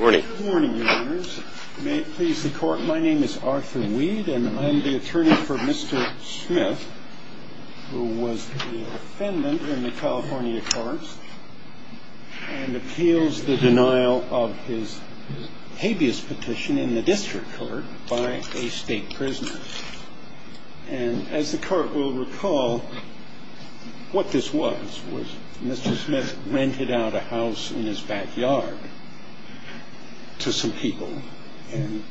My name is Arthur Weed and I'm the attorney for Mr. Smith, who was the defendant in the California courts and appeals the denial of his habeas petition in the district court by a state prisoner. And as the court will recall, what this was, was Mr. Smith rented out a house in his backyard to some people and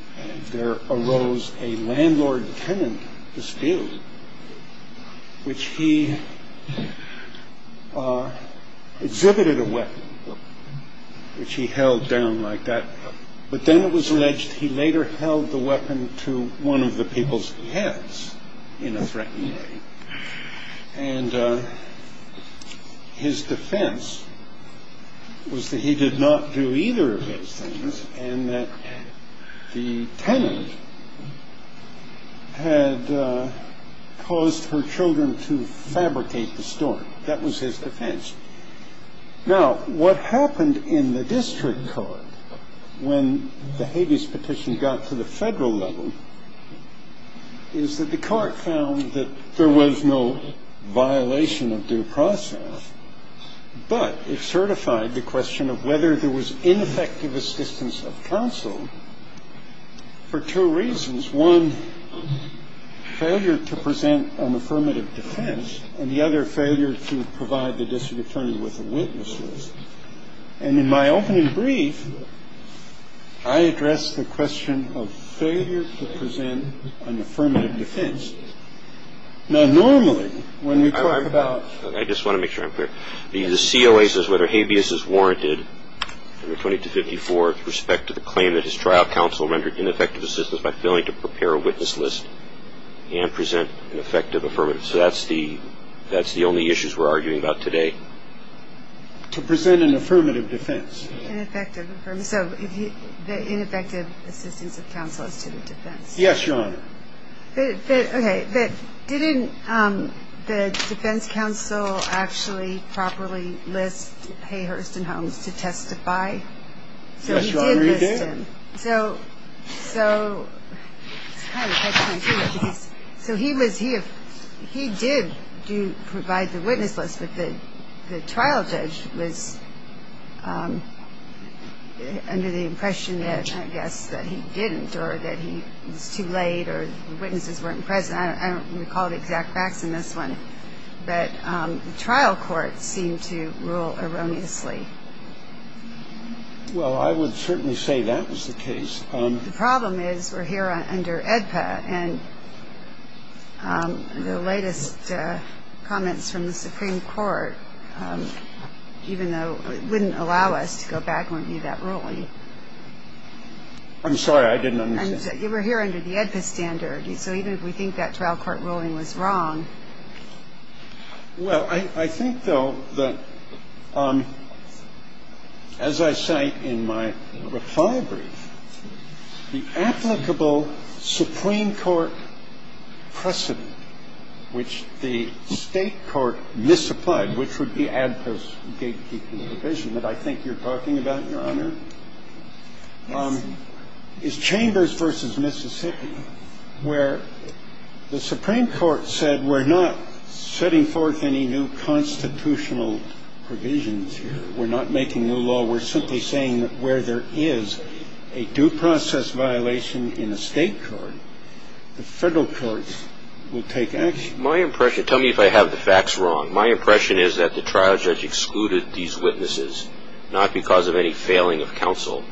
there arose a landlord tenant dispute, which he exhibited a weapon, which he held down like that. But then it was alleged he later held the weapon to one of the people's heads in a threatening way. And his defense was that he did not do either of those things and that the tenant had caused her children to fabricate the story. That was his defense. Now, what happened in the district court when the habeas petition got to the federal level is that the court found that there was no violation of due process. And the court found that there was no violation of due process. But it certified the question of whether there was ineffective assistance of counsel for two reasons. One, failure to present an affirmative defense. And the other, failure to provide the district attorney with a witness list. And in my opening brief, I addressed the question of failure to present an affirmative defense. Now, normally, when we talk about ‑‑ I just want to make sure I'm clear. The COA says whether habeas is warranted under 2254 with respect to the claim that his trial counsel rendered ineffective assistance by failing to prepare a witness list and present an effective affirmative. So that's the only issues we're arguing about today. To present an affirmative defense. So the ineffective assistance of counsel is to the defense. Yes, Your Honor. Okay. But didn't the defense counsel actually properly list Hayhurst and Holmes to testify? Yes, Your Honor, he did. So he did provide the witness list, but the trial judge was under the impression, I guess, that he didn't or that he was too late or the witnesses weren't present. I don't recall the exact facts in this one. But the trial court seemed to rule erroneously. Well, I would certainly say that was the case. The problem is we're here under AEDPA, and the latest comments from the Supreme Court, even though it wouldn't allow us to go back and review that ruling. I'm sorry. I didn't understand. You were here under the AEDPA standard. So even if we think that trial court ruling was wrong. Well, I think, though, that as I cite in my reply brief, the applicable Supreme Court precedent, which the state court misapplied, which would be AEDPA's gatekeeping provision that I think you're talking about, Your Honor, is Chambers v. Mississippi, where the Supreme Court said, We're not setting forth any new constitutional provisions here. We're not making new law. We're simply saying that where there is a due process violation in a state court, the federal courts will take action. My impression, tell me if I have the facts wrong. My impression is that the trial judge excluded these witnesses not because of any failing of counsel,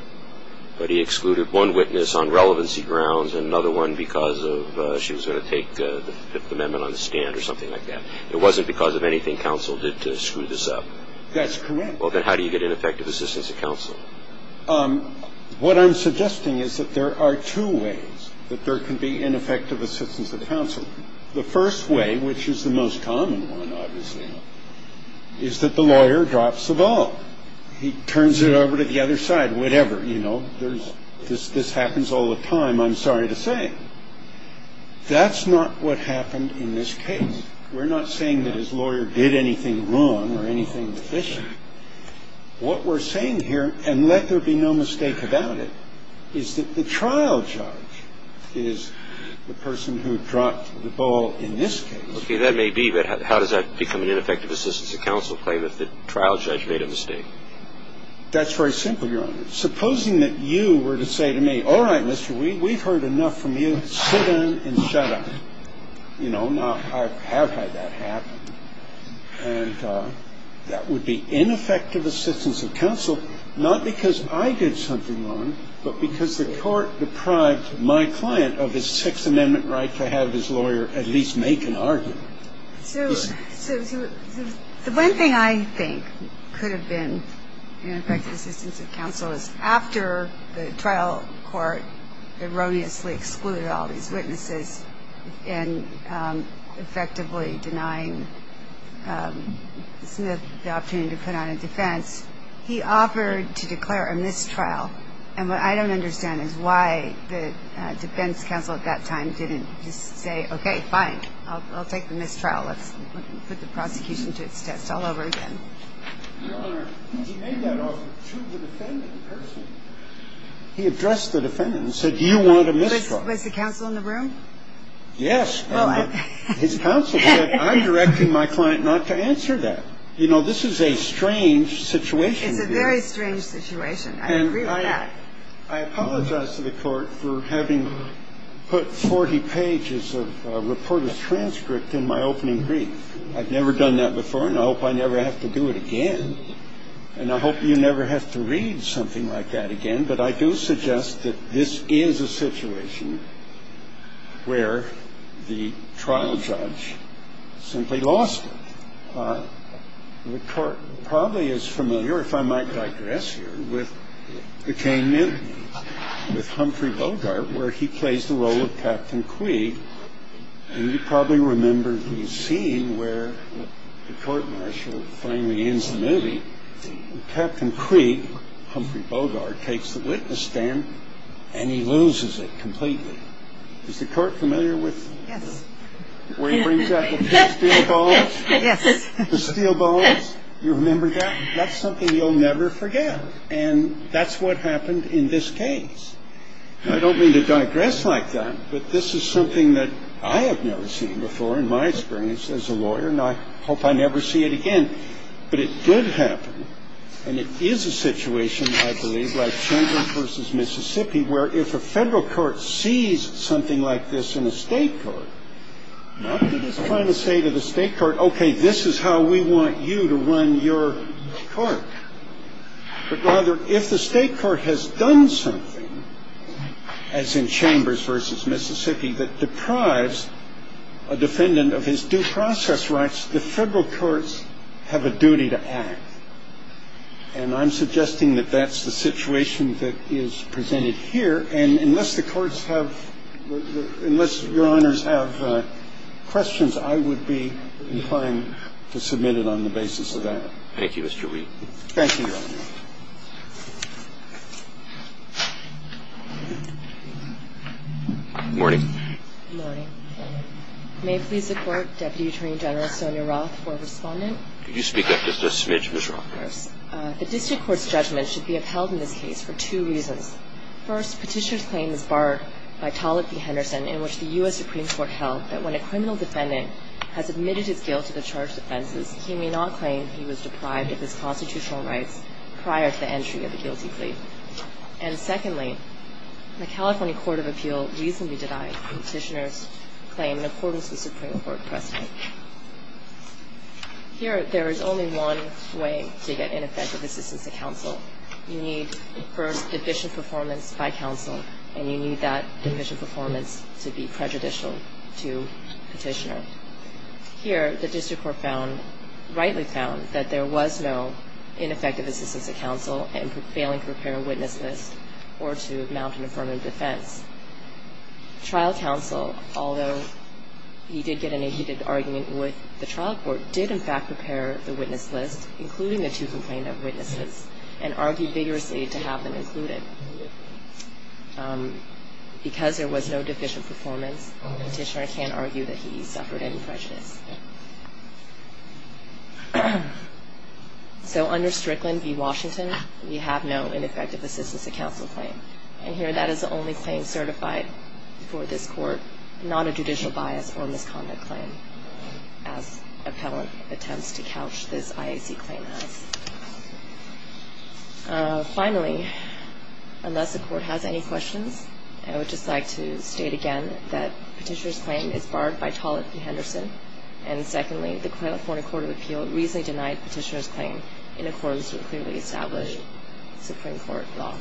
but he excluded one witness on relevancy grounds and another one because she was going to take the Fifth Amendment on the stand or something like that. It wasn't because of anything counsel did to screw this up. That's correct. Well, then how do you get ineffective assistance of counsel? What I'm suggesting is that there are two ways that there can be ineffective assistance of counsel. The first way, which is the most common one, obviously, is that the lawyer drops the ball. He turns it over to the other side, whatever. You know, this happens all the time, I'm sorry to say. That's not what happened in this case. We're not saying that his lawyer did anything wrong or anything deficient. What we're saying here, and let there be no mistake about it, is that the trial judge is the person who dropped the ball in this case. Okay. That may be, but how does that become an ineffective assistance of counsel claim if the trial judge made a mistake? That's very simple, Your Honor. Supposing that you were to say to me, all right, mister, we've heard enough from you. Sit down and shut up. You know, I have had that happen. And that would be ineffective assistance of counsel, not because I did something wrong, but because the court deprived my client of his Sixth Amendment right to have his lawyer at least make an argument. So the one thing I think could have been ineffective assistance of counsel is after the trial court erroneously excluded all these witnesses and effectively denying Smith the opportunity to put on a defense, he offered to declare a mistrial. And what I don't understand is why the defense counsel at that time didn't just say, okay, fine, I'll take the mistrial. Let's put the prosecution to its test all over again. Your Honor, he made that offer to the defendant in person. He addressed the defendant and said, do you want a mistrial? Was the counsel in the room? Yes. His counsel said, I'm directing my client not to answer that. You know, this is a strange situation. It's a very strange situation. I agree with that. And I apologize to the court for having put 40 pages of reporter's transcript in my opening brief. I've never done that before, and I hope I never have to do it again. And I hope you never have to read something like that again. But I do suggest that this is a situation where the trial judge simply lost it. The court probably is familiar, if I might digress here, with McCain-Minton, with Humphrey Bogart, where he plays the role of Captain Queeg. And you probably remember the scene where the court-martial finally ends the movie. Captain Queeg, Humphrey Bogart, takes the witness stand, and he loses it completely. Is the court familiar with where he brings out the steel balls? Yes. The steel balls. You remember that? That's something you'll never forget. And that's what happened in this case. I don't mean to digress like that, but this is something that I have never seen before in my experience as a lawyer, and I hope I never see it again. But it did happen, and it is a situation, I believe, like Chamber v. Mississippi, where if a federal court sees something like this in a state court, I'm not just trying to say to the state court, okay, this is how we want you to run your court. But rather, if the state court has done something, as in Chambers v. Mississippi, that deprives a defendant of his due process rights, the federal courts have a duty to act. And I'm suggesting that that's the situation that is presented here. And unless the courts have ‑‑ unless Your Honors have questions, I would be inclined to submit it on the basis of that. Thank you, Mr. Reed. Thank you, Your Honor. Good morning. Good morning. May it please the Court, Deputy Attorney General Sonia Roth for a respondent? Could you speak up just a smidge, Ms. Roth? Yes. The district court's judgment should be upheld in this case for two reasons. First, Petitioner's claim is barred by Tollett v. Henderson, in which the U.S. Supreme Court held that when a criminal defendant has admitted his guilt to the charged offenses, he may not claim he was deprived of his constitutional rights prior to the entry of a guilty plea. And secondly, the California Court of Appeal reasonably denied Petitioner's claim in accordance with Supreme Court precedent. Here, there is only one way to get ineffective assistance to counsel. You need, first, division performance by counsel, and you need that division performance to be prejudicial to Petitioner. Here, the district court found, rightly found, that there was no ineffective assistance to counsel in failing to prepare a witness list or to mount an affirmative defense. Trial counsel, although he did get in a heated argument with the trial court, did, in fact, prepare the witness list, including the two complainant witnesses, and argued vigorously to have them included. Because there was no division performance, Petitioner can't argue that he suffered any prejudice. So under Strickland v. Washington, we have no ineffective assistance to counsel claim. And here, that is the only claim certified for this court, not a judicial bias or misconduct claim, as appellant attempts to couch this IAC claim as. Finally, unless the Court has any questions, I would just like to state again that Petitioner's claim is barred by Tollett v. Henderson, and secondly, the California Court of Appeal reasonably denied Petitioner's claim in accordance with clearly established Supreme Court law.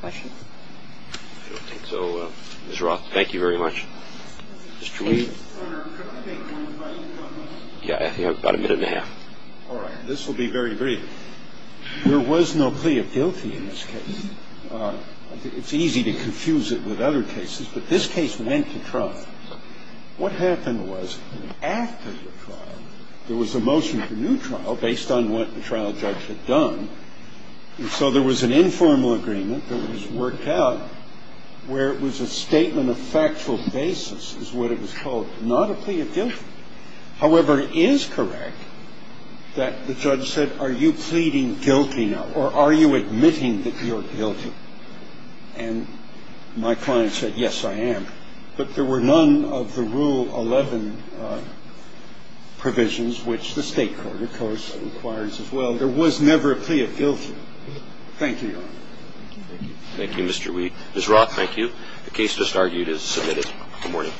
Questions? I don't think so. Ms. Roth, thank you very much. Mr. Weaver? Yeah, about a minute and a half. All right. This will be very brief. There was no plea of guilty in this case. It's easy to confuse it with other cases, but this case went to trial. What happened was, after the trial, there was a motion for new trial based on what the trial judge had done. And so there was an informal agreement that was worked out where it was a statement of factual basis is what it was called, not a plea of guilty. However, it is correct that the judge said, are you pleading guilty now, or are you admitting that you're guilty? And my client said, yes, I am. But there were none of the Rule 11 provisions, which the State court, of course, requires as well. There was never a plea of guilty. Thank you, Your Honor. Thank you, Mr. Weaver. Ms. Roth, thank you. The case just argued is submitted. Good morning.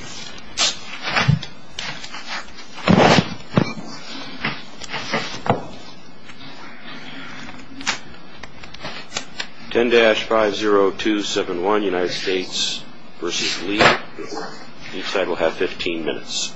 10-50271, United States v. Lee. Each side will have 15 minutes.